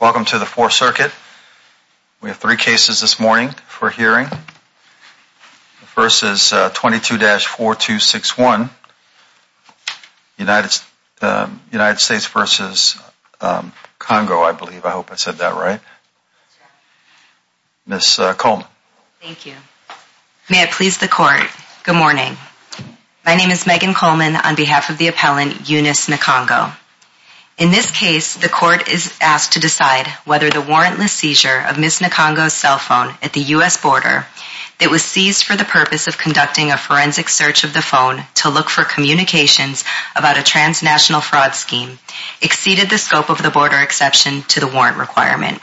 Welcome to the Fourth Circuit. We have three cases this morning for hearing. The first is 22-4261, United States v. Congo, I believe. I hope I said that right. Ms. Coleman. Thank you. May it please the Court, good morning. My name is Megan Coleman on behalf of the appellant, Eunice Nkongho. In this case, the Court is asked to decide whether the warrantless seizure of Ms. Nkongho's cell phone at the U.S. border that was seized for the purpose of conducting a forensic search of the phone to look for communications about a transnational fraud scheme exceeded the scope of the border exception to the warrant requirement.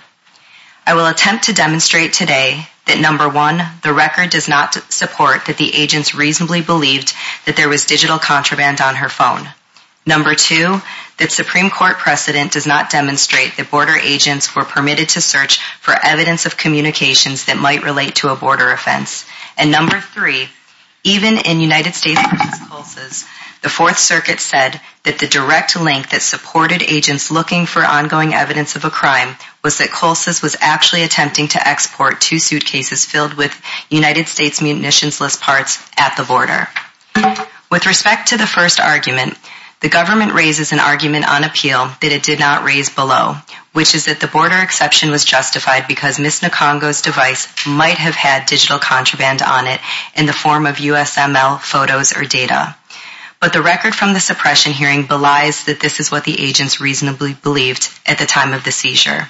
I will attempt to demonstrate today that, number one, the record does not support that the agents reasonably believed that there was digital contraband on her phone. Number two, that Supreme Court precedent does not demonstrate that border agents were permitted to search for evidence of communications that might relate to a border offense. And number three, even in United States v. Colses, the Fourth Circuit said that the direct link that supported agents looking for ongoing evidence of a crime was that Colses was actually at the border. With respect to the first argument, the government raises an argument on appeal that it did not raise below, which is that the border exception was justified because Ms. Nkongho's device might have had digital contraband on it in the form of USML photos or data. But the record from the suppression hearing belies that this is what the agents reasonably believed at the time of the seizure.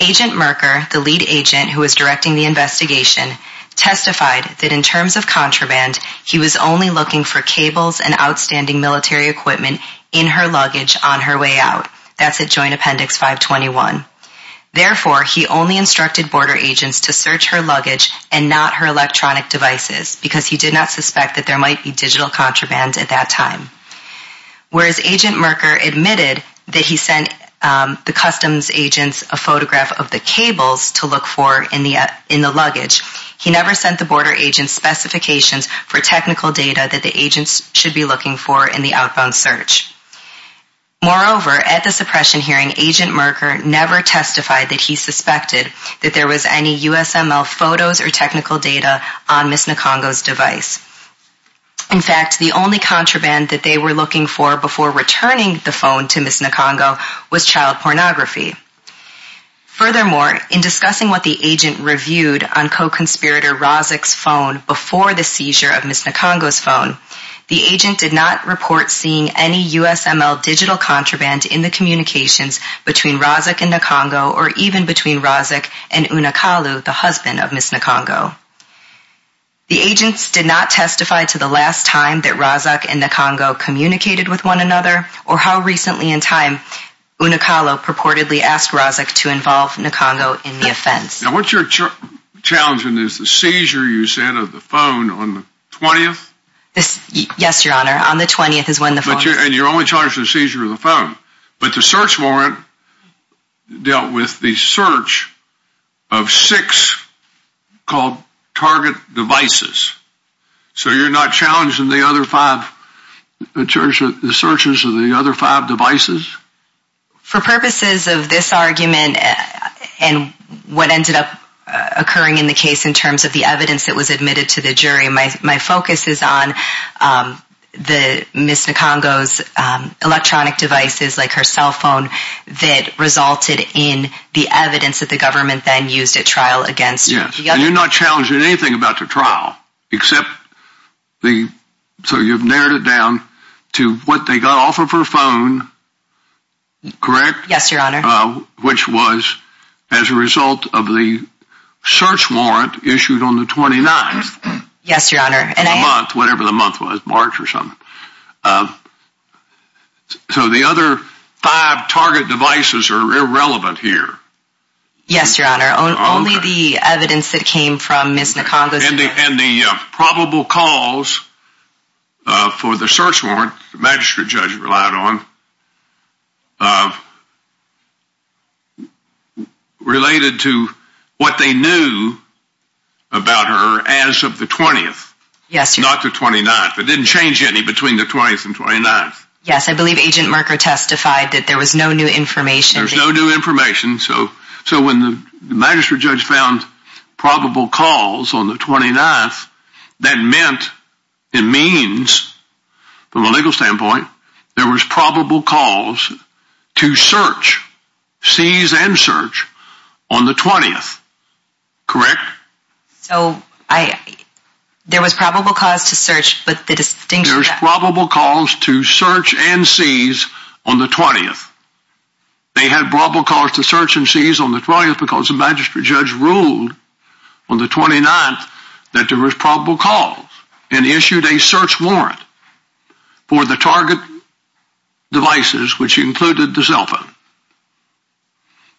Agent Merker, the lead agent who was directing the investigation, testified that in terms of contraband, he was only looking for cables and outstanding military equipment in her luggage on her way out. That's at Joint Appendix 521. Therefore, he only instructed border agents to search her luggage and not her electronic devices because he did not suspect that there might be digital contraband at that time. Whereas Agent Merker admitted that he sent the customs agents a photograph of the cables to look for in the luggage, he never sent the border agents specifications for technical data that the agents should be looking for in the outbound search. Moreover, at the suppression hearing, Agent Merker never testified that he suspected that there was any USML photos or technical data on Ms. Nkongho's device. In fact, the only contraband that they were looking for before returning the phone to Ms. Nkongho was child pornography. Furthermore, in discussing what the agent reviewed on co-conspirator Razak's phone before the seizure of Ms. Nkongho's phone, the agent did not report seeing any USML digital contraband in the communications between Razak and Nkongho or even between Razak and Unakalu, the husband of Ms. Nkongho. The agents did not testify to the last time that Razak and Nkongho communicated with one another or how recently in time Unakalu purportedly asked Razak to involve Nkongho in the offense. Now what you're challenging is the seizure you said of the phone on the 20th? Yes, Your Honor, on the 20th is when the phone was seized. And you're only challenging the seizure of the phone. But the search warrant dealt with the search of six called target devices. So you're not challenging the other five searches of the other five devices? For purposes of this argument and what ended up occurring in the case in terms of the evidence that was admitted to the jury, my focus is on Ms. Nkongho's electronic devices, like her cell phone, that resulted in the evidence that the government then used at trial against her. And you're not challenging anything about the trial except, so you've narrowed it down to what they got off of her phone, correct? Yes, Your Honor. Which was as a result of the search warrant issued on the 29th. Yes, Your Honor. Whatever the month was, March or something. So the other five target devices are irrelevant here. Yes, Your Honor. And the probable cause for the search warrant the magistrate judge relied on related to what they knew about her as of the 20th. Yes, Your Honor. Not the 29th. It didn't change any between the 20th and 29th. Yes, I believe Agent Marker testified that there was no new information. There was no new information. So when the magistrate judge found probable cause on the 29th, that meant, it means, from a legal standpoint, there was probable cause to search, seize and search, on the 20th. Correct? So, there was probable cause to search, but the distinction... There was probable cause to search and seize on the 20th. They had probable cause to search and seize on the 20th because the magistrate judge ruled on the 29th that there was probable cause and issued a search warrant for the target devices, which included the cell phone.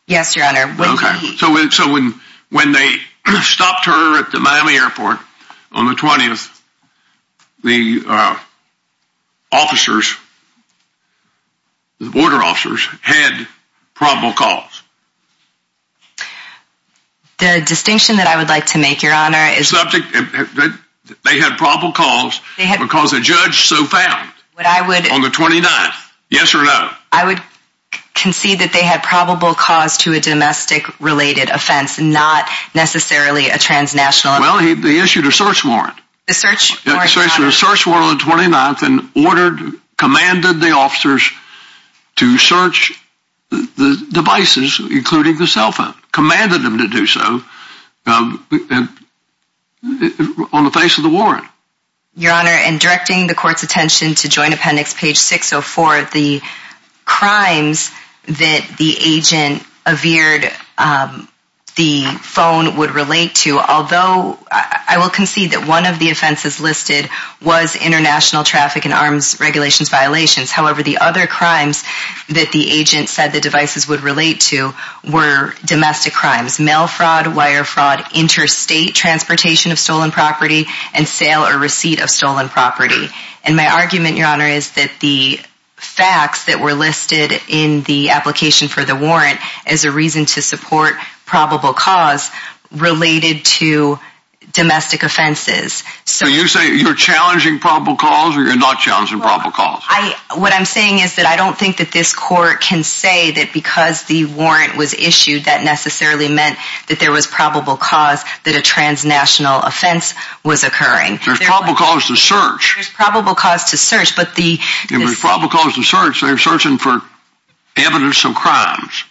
Yes, Your Honor. So when they stopped her at the Miami airport on the 20th, the officers, the border officers, had probable cause. The distinction that I would like to make, Your Honor, is... They had probable cause because the judge so found on the 29th. Yes or no? I would concede that they had probable cause to a domestic related offense, not necessarily a transnational. Well, they issued a search warrant. A search warrant. They issued a search warrant on the 29th and ordered, commanded the officers to search the devices, including the cell phone. Commanded them to do so on the face of the warrant. Your Honor, in directing the court's attention to Joint Appendix page 604, the crimes that the agent veered the phone would relate to, although I will concede that one of the offenses listed was international traffic and arms regulations violations. However, the other crimes that the agent said the devices would relate to were domestic crimes. Mail fraud, wire fraud, interstate transportation of stolen property, and sale or receipt of stolen property. And my argument, Your Honor, is that the facts that were listed in the application for the warrant is a reason to support probable cause related to domestic offenses. So you're challenging probable cause or you're not challenging probable cause? What I'm saying is that I don't think that this court can say that because the warrant was issued that necessarily meant that there was probable cause that a transnational offense was occurring. There's probable cause to search. There's probable cause to search, but the... If there's probable cause to search, they're searching for evidence of crimes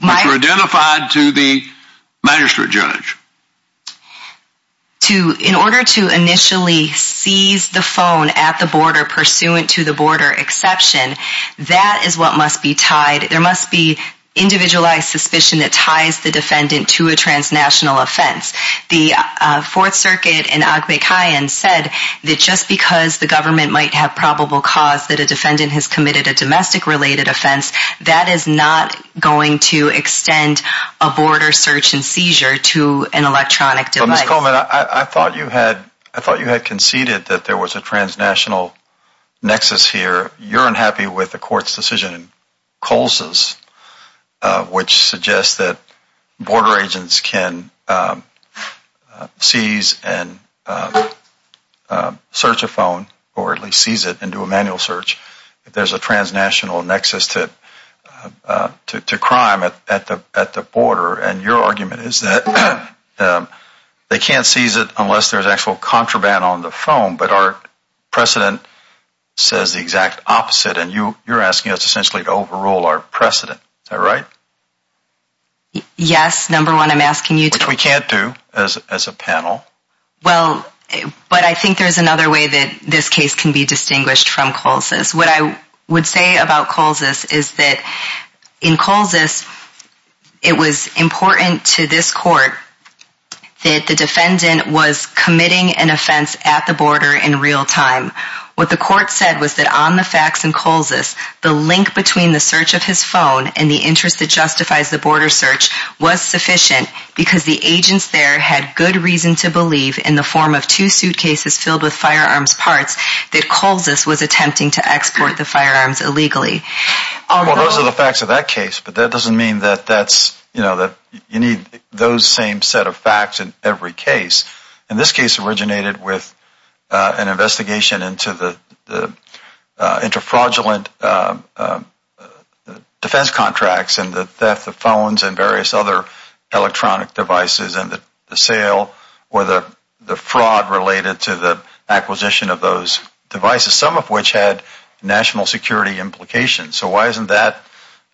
that were identified to the magistrate judge. In order to initially seize the phone at the border pursuant to the border exception, that is what must be tied. There must be individualized suspicion that ties the defendant to a transnational offense. The Fourth Circuit in Agbekayan said that just because the government might have probable cause that a defendant has committed a domestic related offense, that is not going to extend a border search and seizure to an electronic device. But Ms. Coleman, I thought you had conceded that there was a transnational nexus here. You're unhappy with the court's decision in Coles' which suggests that border agents can seize and search a phone or at least seize it and do a manual search if there's a transnational nexus to crime at the border. And your argument is that they can't seize it unless there's actual contraband on the opposite. And you're asking us essentially to overrule our precedent. Is that right? Yes, number one, I'm asking you to. Which we can't do as a panel. Well, but I think there's another way that this case can be distinguished from Coles'. What I would say about Coles' is that in Coles' it was important to this court that the defendant was committing an offense at the border in real time. What the court said was that on the facts in Coles' the link between the search of his phone and the interest that justifies the border search was sufficient because the agents there had good reason to believe in the form of two suitcases filled with firearms parts that Coles' was attempting to export the firearms illegally. Well, those are the facts of that case, but that doesn't mean that you need those same set of facts in every case. And this case originated with an investigation into the inter-fraudulent defense contracts and the theft of phones and various other electronic devices and the sale or the fraud related to the acquisition of those devices, some of which had national security implications. So why isn't that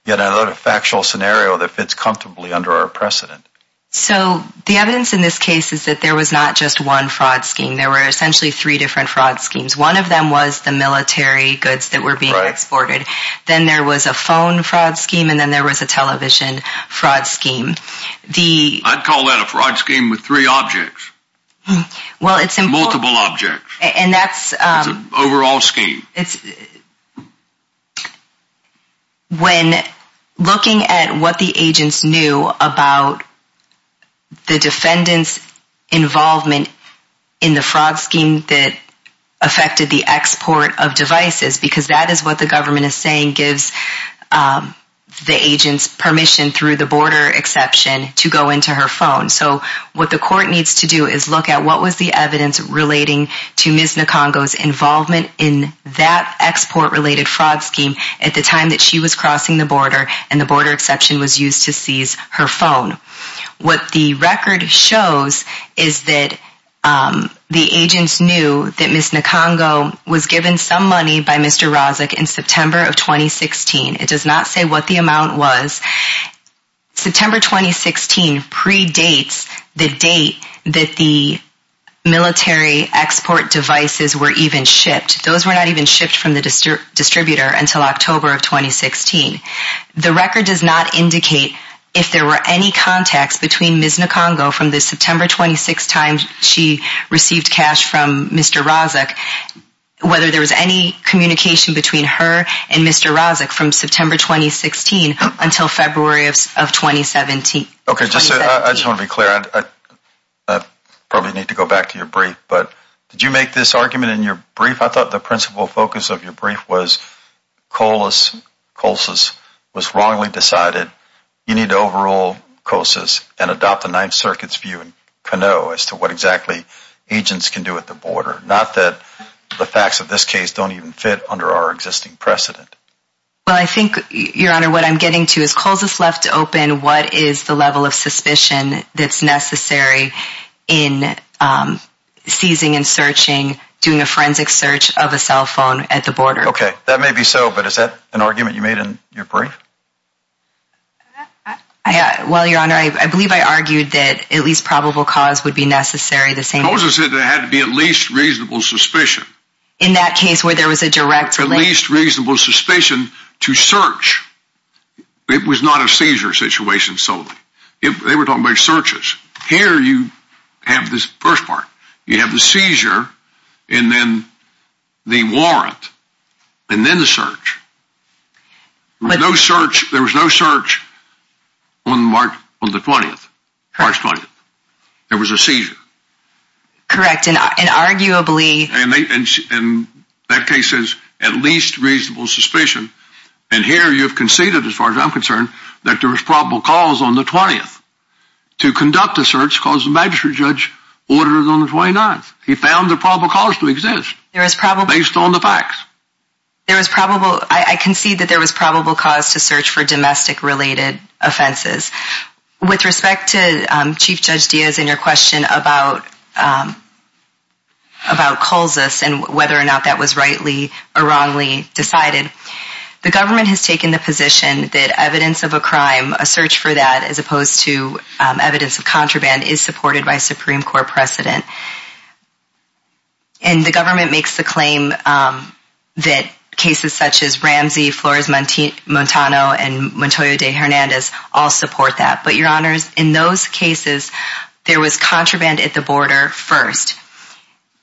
yet another factual scenario that fits comfortably under our precedent? So the evidence in this case is that there was not just one fraud scheme. There were essentially three different fraud schemes. One of them was the military goods that were being exported. Then there was a phone fraud scheme and then there was a television fraud scheme. I'd call that a fraud scheme with three objects. Multiple objects. And that's... It's an overall scheme. It's... When looking at what the agents knew about the defendant's involvement in the fraud scheme that affected the export of devices, because that is what the government is saying gives the agent's permission through the border exception to go into her phone. So what the court needs to do is look at what was the evidence relating to Ms. Nkongo's involvement in that export related fraud scheme at the time that she was crossing the border and the border exception was used to seize her phone. What the record shows is that the agents knew that Ms. Nkongo was given some money by Mr. Rozic in September of 2016. It does not say what the amount was. September 2016 predates the date that the military export devices were even shipped. Those were not even shipped from the distributor until October of 2016. The record does not indicate if there were any contacts between Ms. Nkongo from the September 26th time she received cash from Mr. Rozic, whether there was any communication between her and Mr. Rozic from September 2016 until February of 2017. Okay, I just want to be clear. I probably need to go back to your brief, but did you make this argument in your brief? I thought the principal focus of your brief was COLSIS was wrongly decided. You need to overrule COLSIS and adopt the Ninth Circuit's view in Canoe as to what exactly agents can do at the border, not that the facts of this case don't even fit under our existing precedent. Well, I think, Your Honor, what I'm getting to is COLSIS left open. What is the level of suspicion that's necessary in seizing and searching, doing a forensic search of a cell phone at the border? Okay, that may be so, but is that an argument you made in your brief? Well, Your Honor, I believe I argued that at least probable cause would be necessary. COLSIS said there had to be at least reasonable suspicion. In that case where there was a direct link? At least reasonable suspicion to search. It was not a seizure situation solely. They were talking about searches. Here you have this first part. You have the seizure and then the warrant and then the search. There was no search on March 20th. There was a seizure. Correct. And that case says at least reasonable suspicion. And here you have conceded, as far as I'm concerned, that there was probable cause on the 20th to conduct a search because the magistrate judge ordered it on the 29th. He found the probable cause to exist based on the facts. I concede that there was probable cause to search for domestic-related offenses. With respect to Chief Judge Diaz and your question about COLSIS and whether or not that was rightly or wrongly decided, the government has taken the position that evidence of a crime, a search for that as opposed to evidence of contraband, is supported by Supreme Court precedent. And the government makes the claim that cases such as Ramsey, Flores-Montano, and Montoya de Hernandez all support that. But, Your Honors, in those cases, there was contraband at the border first.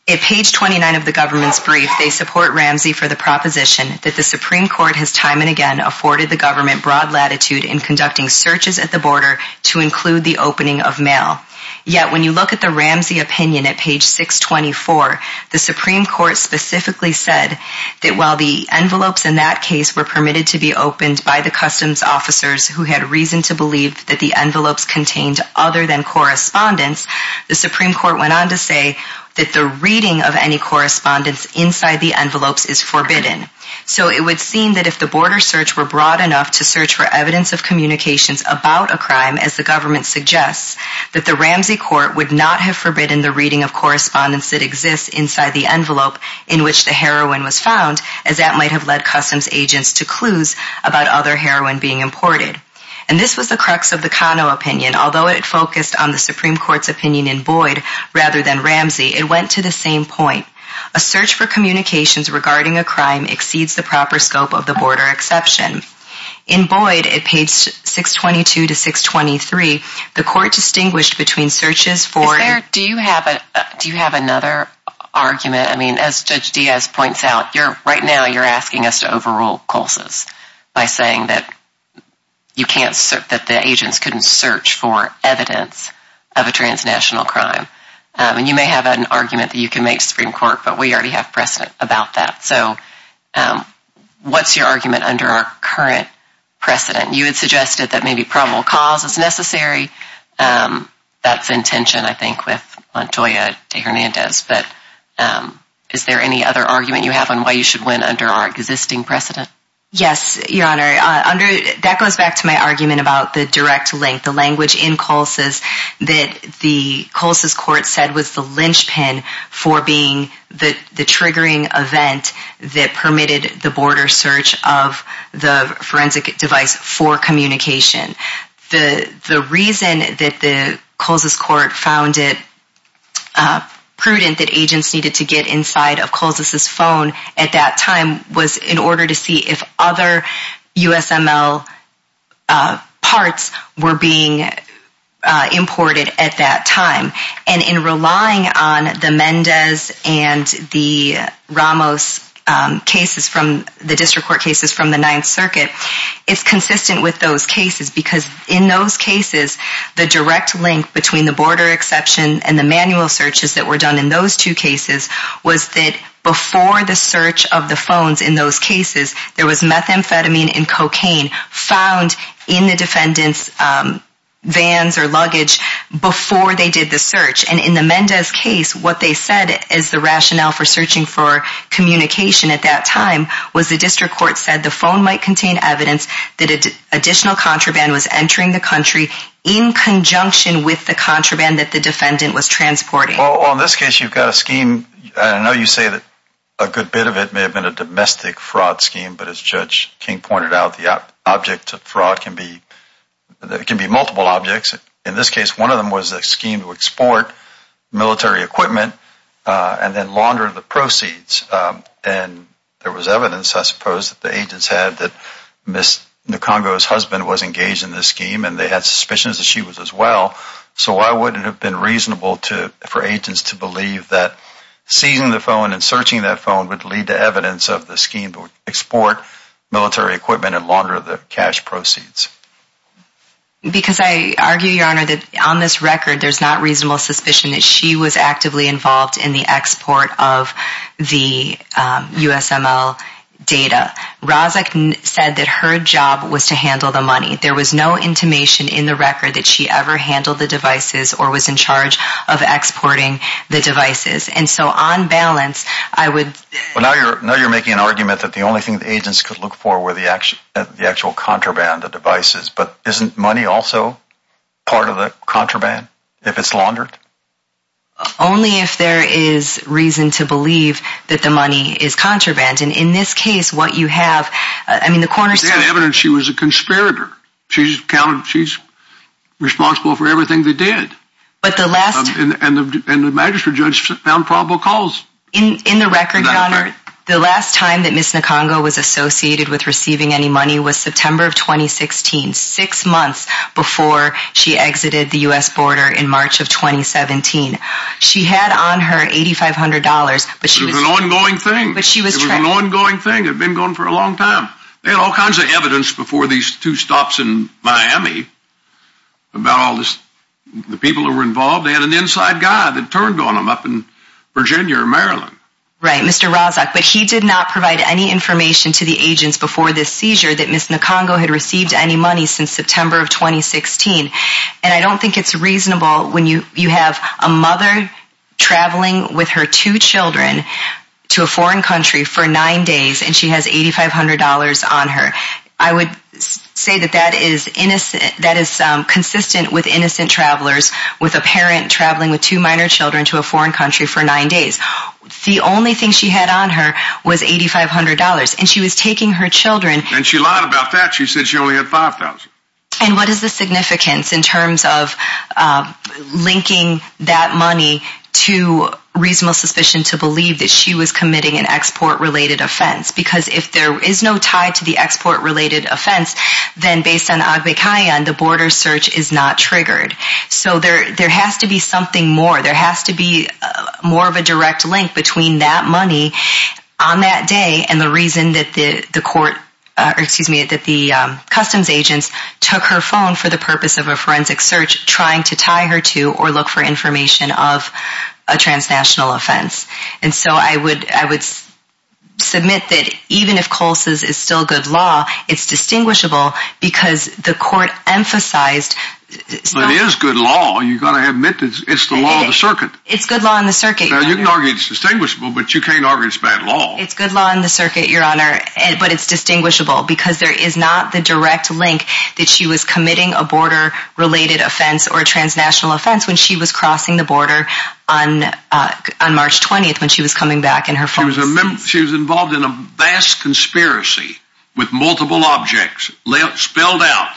At page 29 of the government's brief, they support Ramsey for the proposition that the Supreme Court has time and again afforded the government broad latitude in conducting searches at the border to include the opening of mail. Yet when you look at the Ramsey opinion at page 624, the Supreme Court specifically said that while the envelopes in that case were permitted to be opened by the customs officers who had reason to believe that the envelopes contained other than correspondence, the Supreme Court went on to say that the reading of any correspondence inside the envelopes is forbidden. So it would seem that if the border search were broad enough to search for evidence of communications about a crime, as the government suggests, that the Ramsey Court would not have forbidden the reading of correspondence that exists inside the envelope in which the heroin was found, as that might have led customs agents to clues about other heroin being imported. And this was the crux of the Cano opinion. Although it focused on the Supreme Court's opinion in Boyd rather than Ramsey, it went to the same point. A search for communications regarding a crime exceeds the proper scope of the border exception. In Boyd, at page 622 to 623, the Court distinguished between searches for... Is there... Do you have another argument? I mean, as Judge Diaz points out, right now you're asking us to overrule culses by saying that the agents couldn't search for evidence of a transnational crime. And you may have an argument that you can make to the Supreme Court, but we already have precedent about that. So what's your argument under our current precedent? You had suggested that maybe probable cause is necessary. Is there any other argument you have on why you should win under our existing precedent? Yes, Your Honor. That goes back to my argument about the direct link, the language in culses that the Culses Court said was the linchpin for being the triggering event that permitted the border search of the forensic device for communication. The reason that the Culses Court found it prudent that agents needed to get inside of Culses' phone at that time was in order to see if other USML parts were being imported at that time. And in relying on the Mendez and the Ramos cases, the district court cases from the Ninth Circuit, it's consistent with those cases. Because in those cases, the direct link between the border exception and the manual searches that were done in those two cases was that before the search of the phones in those cases, there was methamphetamine and cocaine found in the defendant's vans or luggage before they did the search. And in the Mendez case, what they said as the rationale for searching for communication at that time was the district court said the phone might contain evidence that additional contraband was entering the country in conjunction with the contraband that the defendant was transporting. Well, in this case, you've got a scheme. I know you say that a good bit of it may have been a domestic fraud scheme, but as Judge King pointed out, the object of fraud can be multiple objects. In this case, one of them was a scheme to export military equipment and then launder the proceeds. And there was evidence, I suppose, that the agents had that Ms. Nkongo's husband was engaged in this scheme, and they had suspicions that she was as well. So why would it have been reasonable for agents to believe that seizing the phone and searching that phone would lead to evidence of the scheme to export military equipment and launder the cash proceeds? Because I argue, Your Honor, that on this record, there's not reasonable suspicion that she was actively involved in the export of the USML data. Razak said that her job was to handle the money. There was no intimation in the record that she ever handled the devices or was in charge of exporting the devices. And so on balance, I would... Well, now you're making an argument that the only thing the agents could look for were the actual contraband, the devices. But isn't money also part of the contraband if it's laundered? Only if there is reason to believe that the money is contraband. And in this case, what you have... I mean, the coroner said... She had evidence she was a conspirator. She's responsible for everything they did. But the last... And the magistrate judge found probable cause. In the record, Your Honor, the last time that Ms. Nkongo was associated with receiving any money was September of 2016, six months before she exited the US border in March of 2017. She had on her $8,500, but she was... It was an ongoing thing. But she was... It was an ongoing thing. It had been going for a long time. They had all kinds of evidence before these two stops in Miami about all this... The people who were involved, they had an inside guy that turned on them up in Virginia or Maryland. Right, Mr. Razak. But he did not provide any information to the agents before this seizure that Ms. Nkongo had received any money since September of 2016. And I don't think it's reasonable when you have a mother traveling with her two children to a foreign country for nine days and she has $8,500 on her. I would say that that is consistent with innocent travelers with a parent traveling with two minor children to a foreign country for nine days. The only thing she had on her was $8,500. And she was taking her children... And she lied about that. She said she only had $5,000. And what is the significance in terms of linking that money to reasonable suspicion to believe that she was committing an export-related offense? Because if there is no tie to the export-related offense, then based on Agbekayan, the border search is not triggered. So there has to be something more. There has to be more of a direct link between that money on that day and the reason that the customs agents took her phone for the purpose of a forensic search trying to tie her to or look for information of a transnational offense. And so I would submit that even if Coles is still good law, it's distinguishable because the court emphasized... But it is good law. You've got to admit it's the law of the circuit. It's good law in the circuit, Your Honor. You can argue it's distinguishable, but you can't argue it's bad law. It's good law in the circuit, Your Honor, but it's distinguishable because there is not the direct link that she was committing a border-related offense or a transnational offense when she was crossing the border on March 20th when she was coming back in her... She was involved in a vast conspiracy with multiple objects spelled out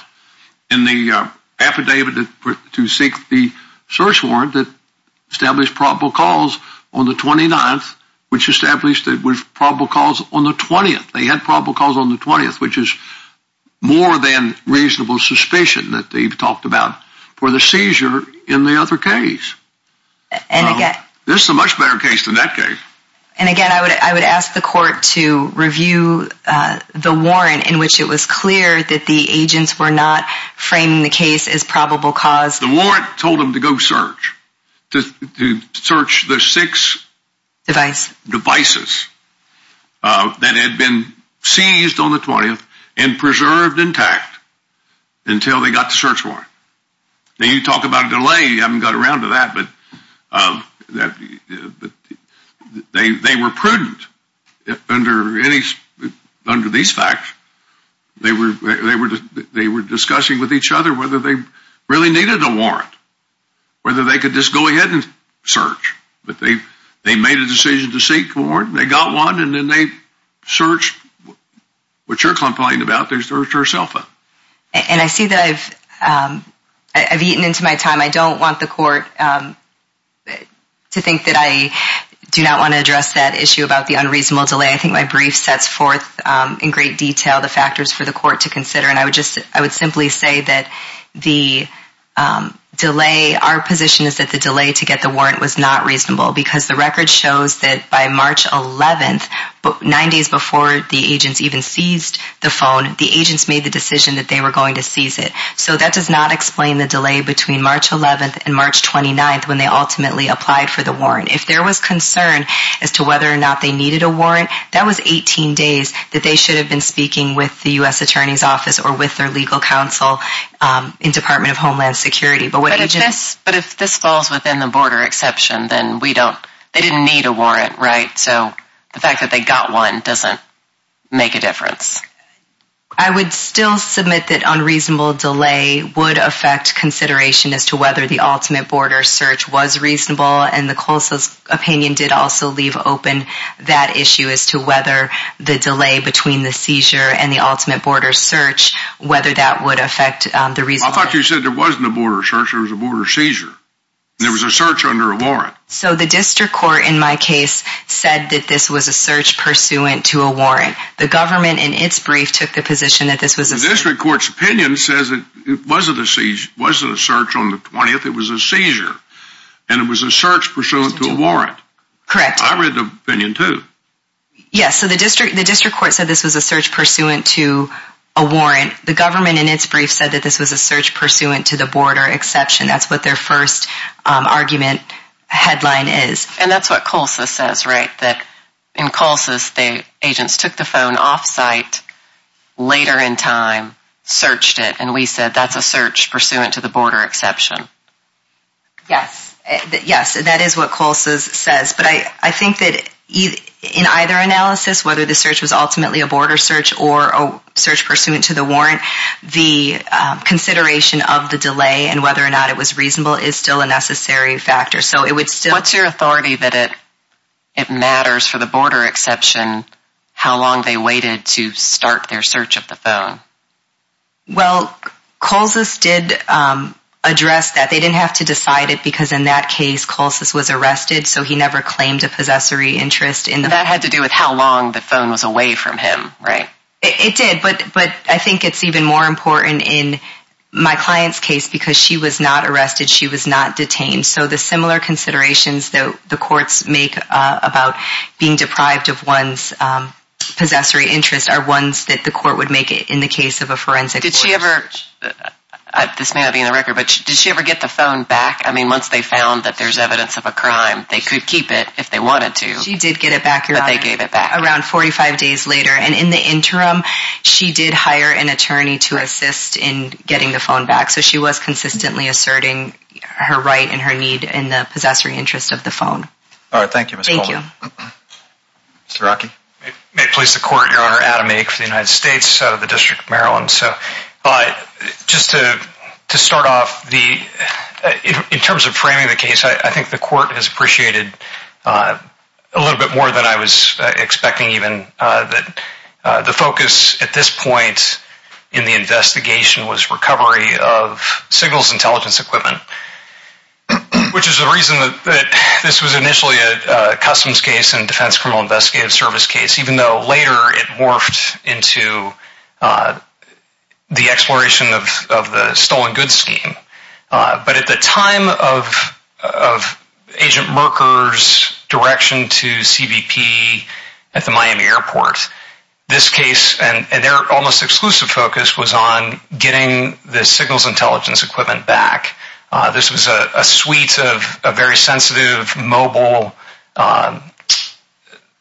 in the affidavit to seek the search warrant that established probable cause on the 29th, which established it was probable cause on the 20th. They had probable cause on the 20th, which is more than reasonable suspicion that they've talked about for the seizure in the other case. And again... This is a much better case than that case. And again, I would ask the court to review the warrant in which it was clear that the agents were not framing the case as probable cause. The warrant told them to go search, to search the six... Devices. Devices that had been seized on the 20th and preserved intact until they got the search warrant. Now, you talk about a delay. You haven't got around to that, but... They were prudent under these facts. They were discussing with each other whether they really needed a warrant, whether they could just go ahead and search. But they made a decision to seek the warrant, and they got one, and then they searched. What you're complaining about, they searched herself up. And I see that I've eaten into my time. I don't want the court to think that I do not want to address that issue about the unreasonable delay. I think my brief sets forth in great detail the factors for the court to consider. And I would simply say that the delay... Our position is that the delay to get the warrant was not reasonable because the record shows that by March 11th, nine days before the agents even seized the phone, the agents made the decision that they were going to seize it. So that does not explain the delay between March 11th and March 29th when they ultimately applied for the warrant. If there was concern as to whether or not they needed a warrant, that was 18 days that they should have been speaking with the U.S. Attorney's Office or with their legal counsel in Department of Homeland Security. But if this falls within the border exception, then we don't... They didn't need a warrant, right? So the fact that they got one doesn't make a difference. I would still submit that unreasonable delay would affect consideration as to whether the ultimate border search was reasonable. And the Coles' opinion did also leave open that issue as to whether the delay between the seizure and the ultimate border search, whether that would affect the reasonable... I thought you said there wasn't a border search, there was a border seizure. There was a search under a warrant. So the district court in my case said that this was a search pursuant to a warrant. The government in its brief took the position that this was a... The district court's opinion says it wasn't a search on the 20th, it was a seizure. And it was a search pursuant to a warrant. Correct. I read the opinion too. Yes, so the district court said this was a search pursuant to a warrant. The government in its brief said that this was a search pursuant to the border exception. That's what their first argument headline is. And that's what Coles' says, right? In Coles', the agents took the phone off site later in time, searched it, and we said that's a search pursuant to the border exception. Yes. Yes, that is what Coles' says. But I think that in either analysis, whether the search was ultimately a border search or a search pursuant to the warrant, the consideration of the delay and whether or not it was reasonable is still a necessary factor. So it would still... What's your authority that it matters, for the border exception, how long they waited to start their search of the phone? Well, Coles' did address that. They didn't have to decide it because in that case, Coles' was arrested, so he never claimed a possessory interest. That had to do with how long the phone was away from him, right? It did. But I think it's even more important in my client's case because she was not arrested. She was not detained. So the similar considerations that the courts make about being deprived of one's possessory interest are ones that the court would make in the case of a forensic search. Did she ever... This may not be in the record, but did she ever get the phone back? I mean, once they found that there's evidence of a crime, they could keep it if they wanted to. She did get it back, Your Honor. But they gave it back. Around 45 days later. And in the interim, she did hire an attorney to assist in getting the phone back. So she was consistently asserting her right and her need in the possessory interest of the phone. All right. Thank you, Ms. Holden. Thank you. Mr. Rockey? May it please the court, Your Honor. Adam Ake for the United States out of the District of Maryland. So just to start off, in terms of framing the case, I think the court has appreciated a little bit more than I was expecting even. The focus at this point in the investigation was recovery of signals intelligence equipment, which is the reason that this was initially a customs case and defense criminal investigative service case, even though later it morphed into the exploration of the stolen goods scheme. But at the time of Agent Merker's direction to CBP at the Miami airport, this case and their almost exclusive focus was on getting the signals intelligence equipment back. This was a suite of very sensitive mobile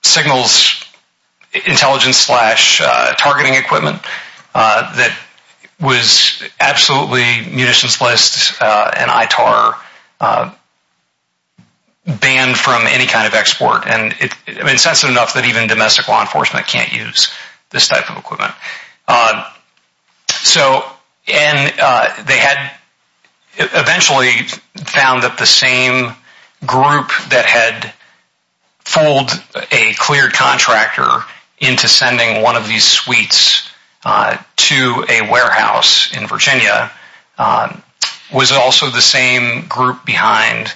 signals intelligence-slash-targeting equipment that was absolutely munitions-based and ITAR-banned from any kind of export. And it's sensitive enough that even domestic law enforcement can't use this type of equipment. So they had eventually found that the same group that had fooled a cleared contractor into sending one of these suites to a warehouse in Virginia was also the same group behind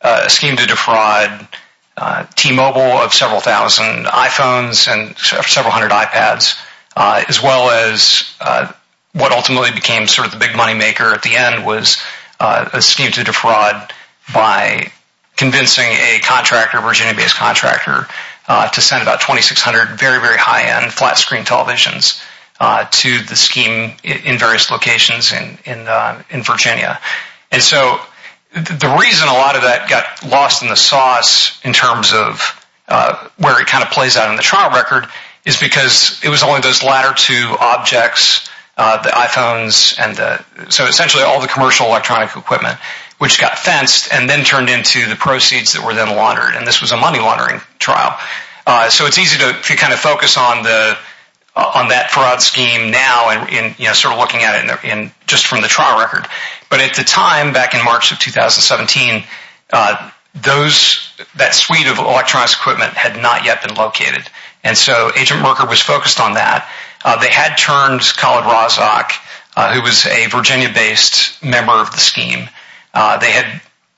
a scheme to defraud T-Mobile of several thousand iPhones and several hundred iPads, as well as what ultimately became sort of the big moneymaker at the end was a scheme to defraud by convincing a Virginia-based contractor to send about 2,600 very, very high-end flat-screen televisions to the scheme in various locations in Virginia. And so the reason a lot of that got lost in the sauce in terms of where it kind of plays out in the trial record is because it was only those latter two objects, the iPhones and the, so essentially all the commercial electronic equipment, which got fenced and then turned into the proceeds that were then laundered. And this was a money laundering trial. So it's easy to kind of focus on that fraud scheme now and sort of looking at it just from the trial record. But at the time, back in March of 2017, those, that suite of electronic equipment had not yet been located. And so Agent Merker was focused on that. They had turned Khalid Razak, who was a Virginia-based member of the scheme. They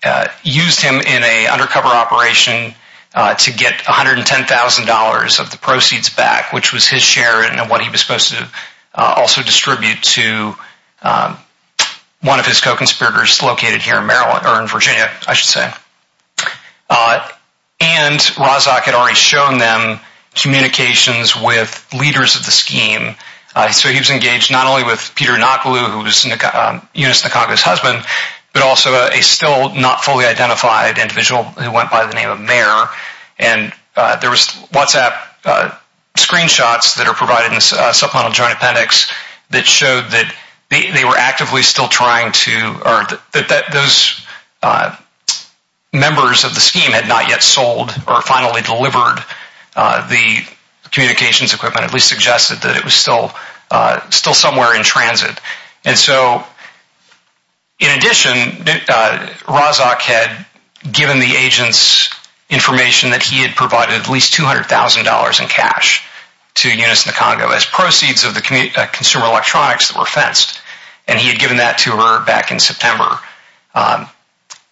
had used him in an undercover operation to get $110,000 of the proceeds back, which was his share and what he was supposed to also distribute to one of his co-conspirators located here in Virginia, I should say. And Razak had already shown them communications with leaders of the scheme. So he was engaged not only with Peter Nakulu, who was Eunice Nakagawa's husband, but also a still not fully identified individual who went by the name of Mer. And there was WhatsApp screenshots that are provided in supplemental joint appendix that showed that they were actively still trying to, or that those members of the scheme had not yet sold or finally delivered the communications equipment, at least suggested that it was still somewhere in transit. And so, in addition, Razak had given the agents information that he had provided at least $200,000 in cash of the consumer electronics that were fenced. And he had given that to her back in September.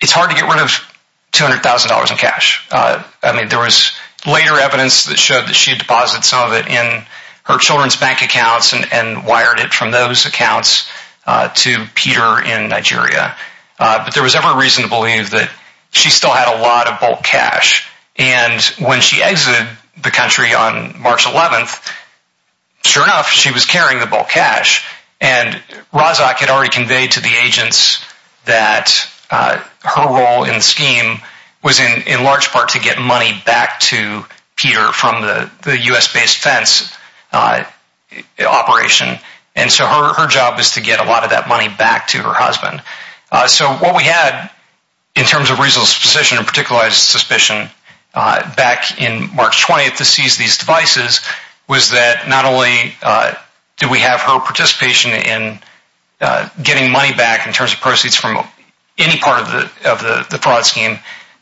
It's hard to get rid of $200,000 in cash. I mean, there was later evidence that showed that she had deposited some of it in her children's bank accounts and wired it from those accounts to Peter in Nigeria. But there was every reason to believe that she still had a lot of bulk cash. And when she exited the country on March 11th, sure enough, she was carrying the bulk cash. And Razak had already conveyed to the agents that her role in the scheme was in large part to get money back to Peter from the U.S.-based fence operation. And so her job was to get a lot of that money back to her husband. So what we had, in terms of reasonable suspicion and particular suspicion, back in March 20th to seize these devices was that not only did we have her participation in getting money back in terms of proceeds from any part of the fraud scheme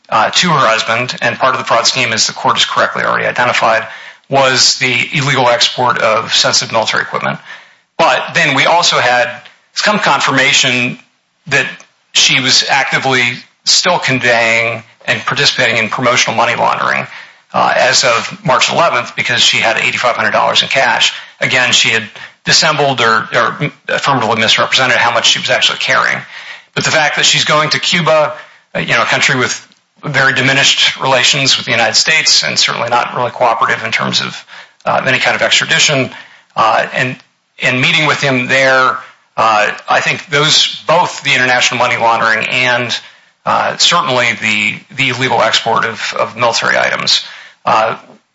to her husband, and part of the fraud scheme, as the court has correctly already identified, was the illegal export of sensitive military equipment. But then we also had some confirmation that she was actively still conveying and participating in promotional money laundering as of March 11th because she had $8,500 in cash. Again, she had dissembled or affirmatively misrepresented how much she was actually carrying. But the fact that she's going to Cuba, a country with very diminished relations with the United States and certainly not really cooperative in terms of any kind of extradition, and meeting with him there, I think both the international money laundering and certainly the illegal export of military items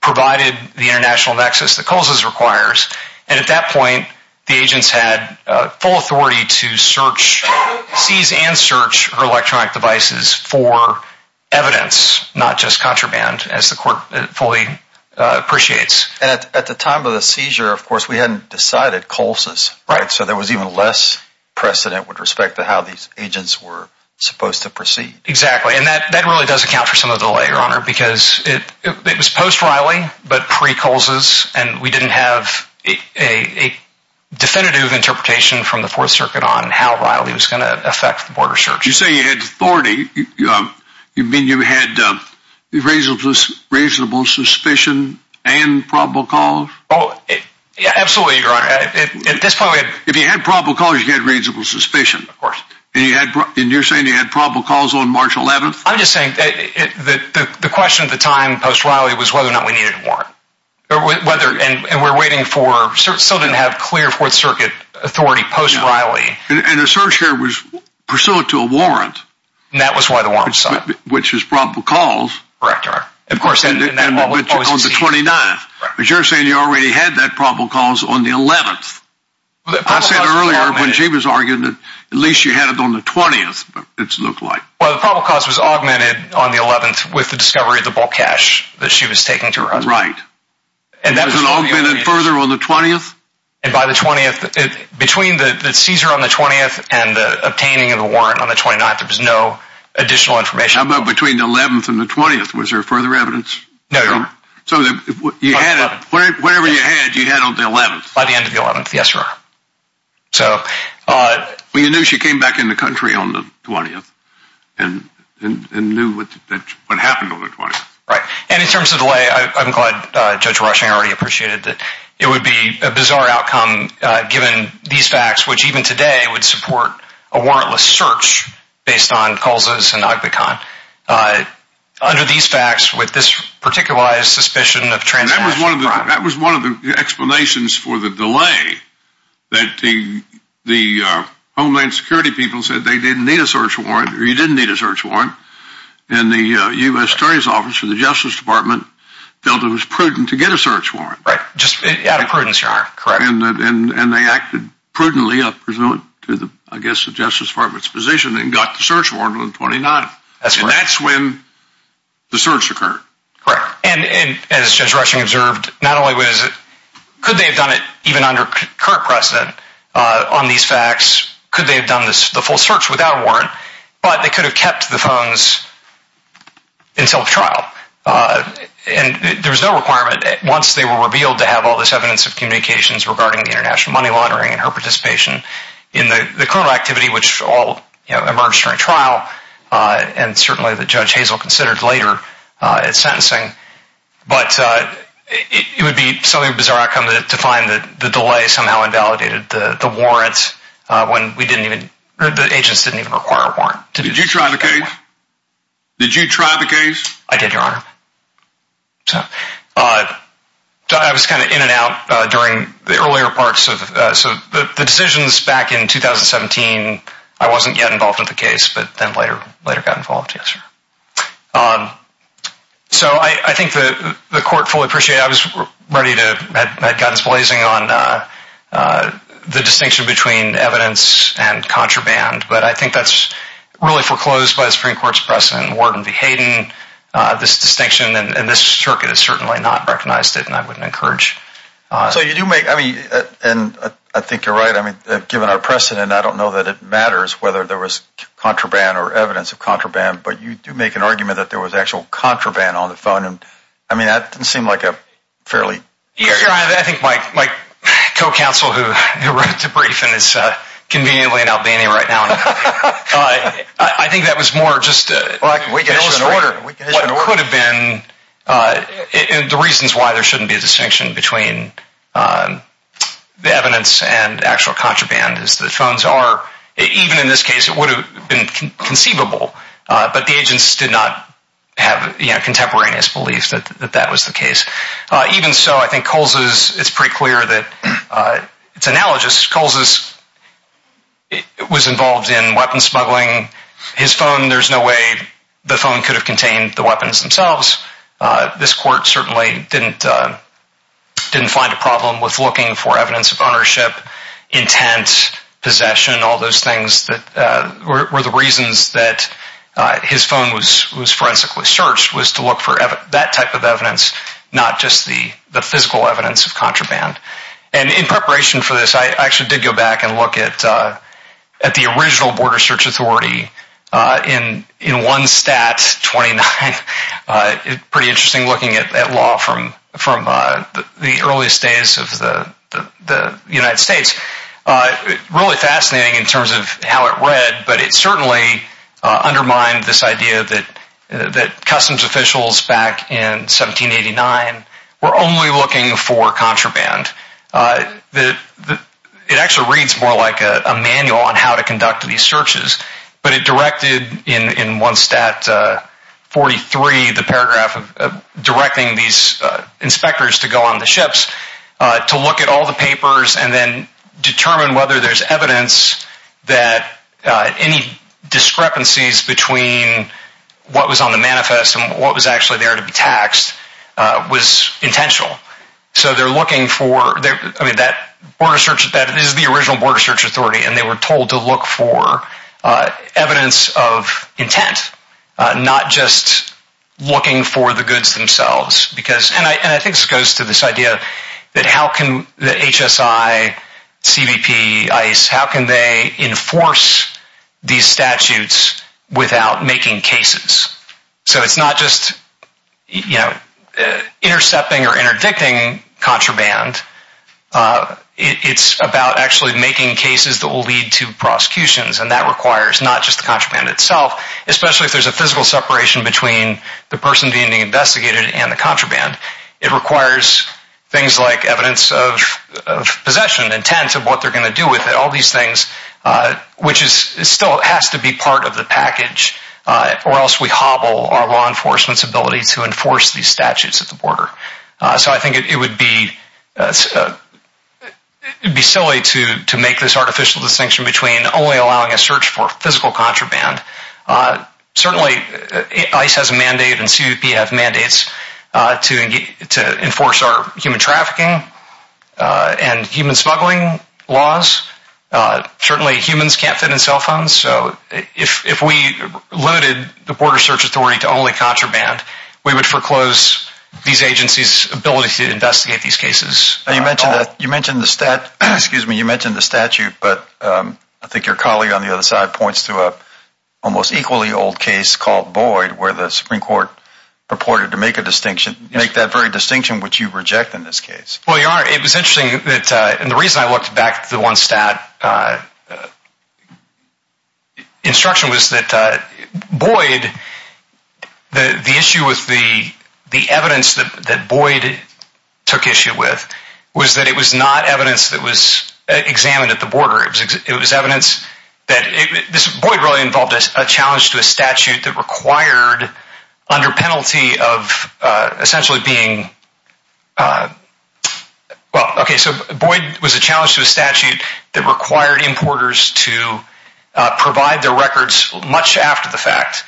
provided the international nexus that COLSIS requires. And at that point, the agents had full authority to seize and search her electronic devices for evidence, not just contraband, as the court fully appreciates. At the time of the seizure, of course, we hadn't decided COLSIS. Right. So there was even less precedent with respect to how these agents were supposed to proceed. Exactly. And that really does account for some of the delay, Your Honor, because it was post-Riley but pre-COLSIS, and we didn't have a definitive interpretation from the Fourth Circuit on how Riley was going to affect the border search. You say you had authority. You mean you had reasonable suspicion and probable cause? Absolutely, Your Honor. At this point, we had... If you had probable cause, you had reasonable suspicion. Of course. And you're saying you had probable cause on March 11th? I'm just saying the question at the time, post-Riley, was whether or not we needed a warrant. And we're waiting for... We still didn't have clear Fourth Circuit authority post-Riley. And the search here was pursuant to a warrant. And that was why the warrant was signed. Which is probable cause. Correct, Your Honor. Of course. But on the 29th. But you're saying you already had that probable cause on the 11th. I said earlier, when she was arguing, at least you had it on the 20th, it looked like. Well, the probable cause was augmented on the 11th with the discovery of the bulk cash that she was taking to her husband. Right. And that was... Was it augmented further on the 20th? And by the 20th... Between the seizure on the 20th and the obtaining of the warrant on the 29th, there was no additional information. How about between the 11th and the 20th? Was there further evidence? No, Your Honor. So you had it... On the 11th. Whatever you had, you had on the 11th. By the end of the 11th, yes, Your Honor. So... Well, you knew she came back in the country on the 20th and knew what happened on the 20th. Right. And in terms of delay, I'm glad Judge Rushing already appreciated that it would be a bizarre outcome given these facts, which even today would support a warrantless search based on CULSAs and OGBECON. Under these facts, with this particularized suspicion of transaction fraud... That was one of the explanations for the delay that the Homeland Security people said they didn't need a search warrant or you didn't need a search warrant, and the U.S. Attorney's Office or the Justice Department felt it was prudent to get a search warrant. Just out of prudence, Your Honor. Correct. And they acted prudently, I presume, to the, I guess, the Justice Department's position and got the search warrant on the 29th. That's correct. And that's when the search occurred. Correct. And as Judge Rushing observed, not only was it... current precedent on these facts, could they have done the full search without a warrant, but they could have kept the phones until the trial. And there was no requirement, once they were revealed, to have all this evidence of communications regarding the international money laundering and her participation in the criminal activity, which all emerged during trial and certainly that Judge Hazel considered later in sentencing. But it would be something of a bizarre outcome to find that the delay somehow invalidated the warrant when we didn't even... the agents didn't even require a warrant. Did you try the case? Did you try the case? I did, Your Honor. I was kind of in and out during the earlier parts of... So the decisions back in 2017, I wasn't yet involved with the case, but then later got involved, yes, sir. So I think the court fully appreciated... I was ready to... I'd gotten blazing on the distinction between evidence and contraband, but I think that's really foreclosed by the Supreme Court's precedent. Warden V. Hayden, this distinction, and this circuit has certainly not recognized it, and I wouldn't encourage... So you do make... I mean, and I think you're right. I mean, given our precedent, I don't know that it matters whether there was contraband or evidence of contraband, but you do make an argument that there was actual contraband on the phone, and, I mean, that didn't seem like a fairly... Your Honor, I think my co-counsel, who wrote the briefing, is conveniently in Albania right now. I think that was more just... Well, we can issue an order. What could have been... The reasons why there shouldn't be a distinction between the evidence and actual contraband is the phones are... Even in this case, it would have been conceivable, but the agents did not have contemporaneous beliefs that that was the case. Even so, I think Coles is... It's pretty clear that... It's analogous. Coles was involved in weapon smuggling. His phone, there's no way the phone could have contained the weapons themselves. This court certainly didn't find a problem with looking for evidence of ownership, intent, possession, all those things that were the reasons that his phone was forensically searched, was to look for that type of evidence, not just the physical evidence of contraband. And in preparation for this, I actually did go back and look at the original Border Search Authority in one stat, 29. Pretty interesting looking at law from the earliest days of the United States. Really fascinating in terms of how it read, but it certainly undermined this idea that customs officials back in 1789 were only looking for contraband. It actually reads more like a manual on how to conduct these searches, but it directed in one stat, 43, the paragraph directing these inspectors to go on the ships to look at all the papers and then determine whether there's evidence that any discrepancies between what was on the manifest and what was actually there to be taxed was intentional. So they're looking for, I mean that is the original Border Search Authority and they were told to look for evidence of intent, not just looking for the goods themselves. And I think this goes to this idea that how can the HSI, CBP, ICE, how can they enforce these statutes without making cases? So it's not just intercepting or interdicting contraband, it's about actually making cases that will lead to prosecutions and that requires not just the contraband itself, especially if there's a physical separation between the person being investigated and the contraband. It requires things like evidence of possession, intent of what they're going to do with it, all these things, which still has to be part of the package or else we hobble our law enforcement's ability to enforce these statutes at the border. So I think it would be silly to make this artificial distinction between only allowing a search for physical contraband. Certainly ICE has a mandate and CBP has mandates to enforce our human trafficking and human smuggling laws. Certainly humans can't fit in cell phones, so if we limited the border search authority to only contraband, we would foreclose these agencies' ability to investigate these cases. You mentioned the statute, but I think your colleague on the other side points to an almost equally old case called Boyd where the Supreme Court purported to make a distinction, make that very distinction which you reject in this case. Well, Your Honor, it was interesting that, and the reason I looked back at the one stat instruction was that Boyd, the issue with the evidence that Boyd took issue with was that it was not evidence that was examined at the border. It was evidence that, Boyd really involved a challenge to a statute that required under penalty of essentially being, well, okay, so Boyd was a challenge to a statute that required importers to provide their records much after the fact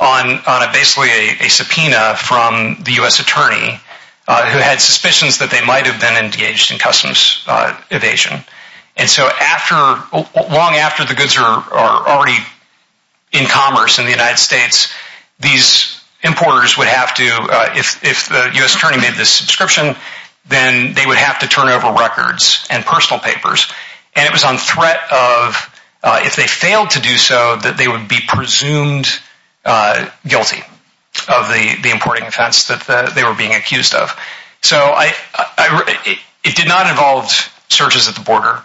on basically a subpoena from the U.S. attorney who had suspicions that they might have been engaged in customs evasion. And so long after the goods are already in commerce in the United States, these importers would have to, if the U.S. attorney made this subscription, then they would have to turn over records and personal papers. And it was on threat of if they failed to do so that they would be presumed guilty of the importing offense that they were being accused of. So it did not involve searches at the border.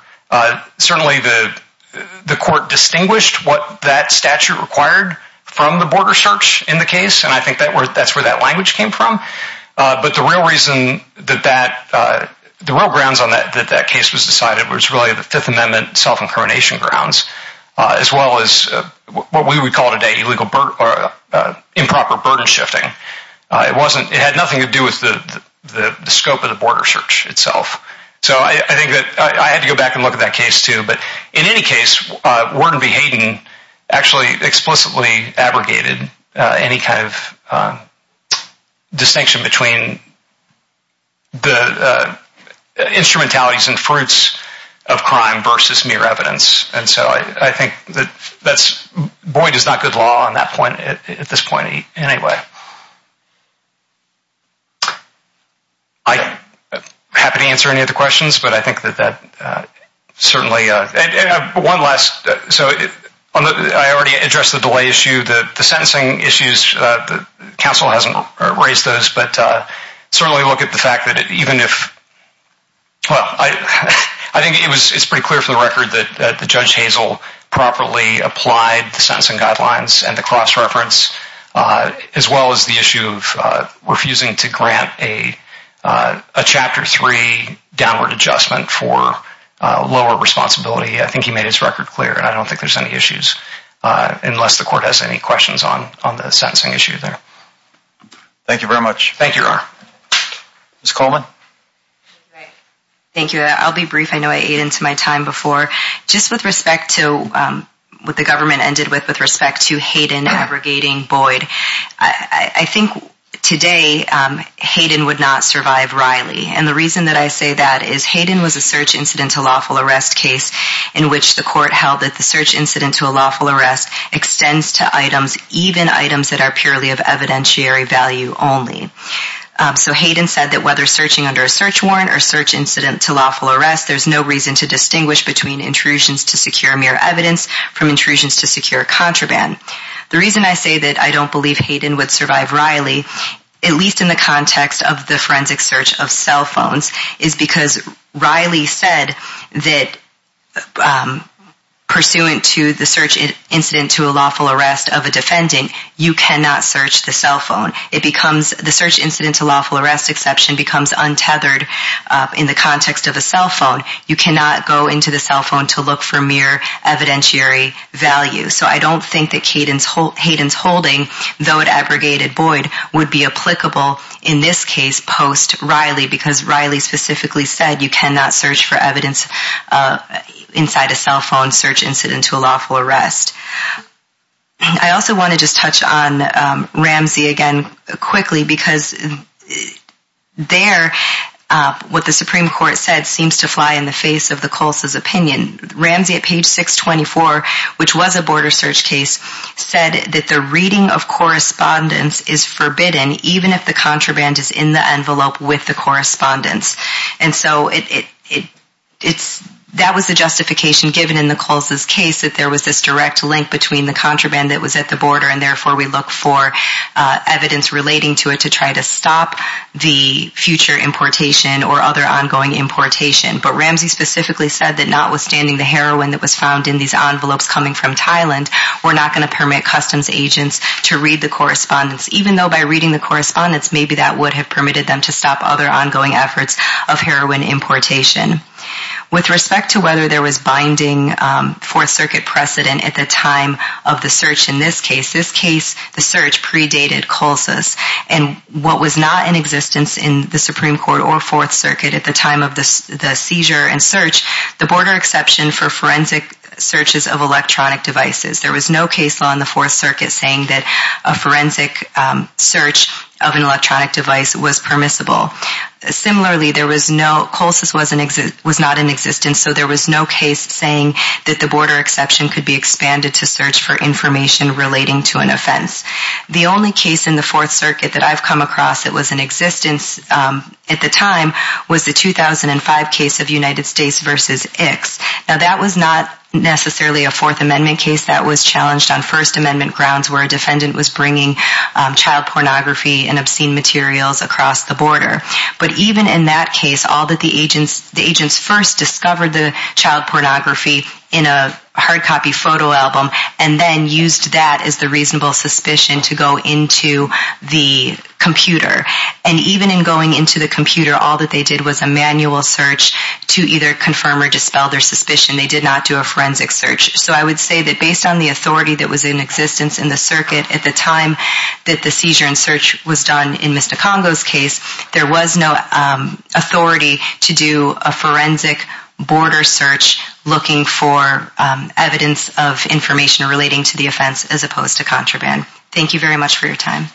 Certainly the court distinguished what that statute required from the border search in the case, and I think that's where that language came from. But the real reason that that, the real grounds on that case was decided was really the Fifth Amendment self-incrimination grounds as well as what we would call today illegal or improper burden shifting. It had nothing to do with the scope of the border search itself. So I think that I had to go back and look at that case too. But in any case, Worden v. Hayden actually explicitly abrogated any kind of distinction between the instrumentalities and fruits of crime versus mere evidence. And so I think that Boyd is not good law at this point anyway. I'm happy to answer any of the questions, but I think that that certainly, and one last, so I already addressed the delay issue. The sentencing issues, the counsel hasn't raised those, but certainly look at the fact that even if, well, I think it's pretty clear for the record that Judge Hazel properly applied the sentencing guidelines and the cross-reference, as well as the issue of refusing to grant a Chapter 3 downward adjustment for lower responsibility. I think he made his record clear, and I don't think there's any issues unless the court has any questions on the sentencing issue there. Thank you very much. Thank you, Your Honor. Ms. Coleman. Thank you. I'll be brief. I know I ate into my time before. Just with respect to what the government ended with with respect to Hayden abrogating Boyd, I think today Hayden would not survive Riley. And the reason that I say that is Hayden was a search incident to lawful arrest case in which the court held that the search incident to a lawful arrest extends to items, even items that are purely of evidentiary value only. So Hayden said that whether searching under a search warrant or search incident to lawful arrest, there's no reason to distinguish between intrusions to secure mere evidence from intrusions to secure contraband. The reason I say that I don't believe Hayden would survive Riley, at least in the context of the forensic search of cell phones, is because Riley said that, pursuant to the search incident to a lawful arrest of a defendant, you cannot search the cell phone. The search incident to lawful arrest exception becomes untethered in the context of a cell phone. You cannot go into the cell phone to look for mere evidentiary value. So I don't think that Hayden's holding, though it abrogated Boyd, would be applicable in this case post-Riley because Riley specifically said you cannot search for evidence inside a cell phone search incident to a lawful arrest. I also want to just touch on Ramsey again quickly because there what the Supreme Court said seems to fly in the face of the Coles' opinion. Ramsey at page 624, which was a border search case, said that the reading of correspondence is forbidden even if the contraband is in the envelope with the correspondence. And so that was the justification given in the Coles' case that there was this direct link between the contraband that was at the border and therefore we look for evidence relating to it for the future importation or other ongoing importation. But Ramsey specifically said that notwithstanding the heroin that was found in these envelopes coming from Thailand, we're not going to permit customs agents to read the correspondence, even though by reading the correspondence maybe that would have permitted them to stop other ongoing efforts of heroin importation. With respect to whether there was binding Fourth Circuit precedent at the time of the search in this case, this case the search predated Coles' and what was not in existence in the Supreme Court or Fourth Circuit at the time of the seizure and search, the border exception for forensic searches of electronic devices. There was no case law in the Fourth Circuit saying that a forensic search of an electronic device was permissible. Similarly, Coles' was not in existence, so there was no case saying that the border exception could be expanded to search for information relating to an offense. The only case in the Fourth Circuit that I've come across that was in existence at the time was the 2005 case of United States v. ICS. Now that was not necessarily a Fourth Amendment case that was challenged on First Amendment grounds where a defendant was bringing child pornography and obscene materials across the border. But even in that case, all that the agents first discovered the child pornography in a hard copy photo album and then used that as the reasonable suspicion to go into the computer. And even in going into the computer, all that they did was a manual search to either confirm or dispel their suspicion. They did not do a forensic search. So I would say that based on the authority that was in existence in the circuit at the time that the seizure and search was done in Mr. Congo's case, there was no authority to do a forensic border search looking for evidence of information relating to the offense as opposed to contraband. Thank you very much for your time.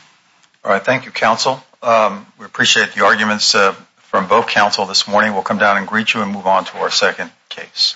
All right. Thank you, counsel. We appreciate the arguments from both counsel this morning. We'll come down and greet you and move on to our second case.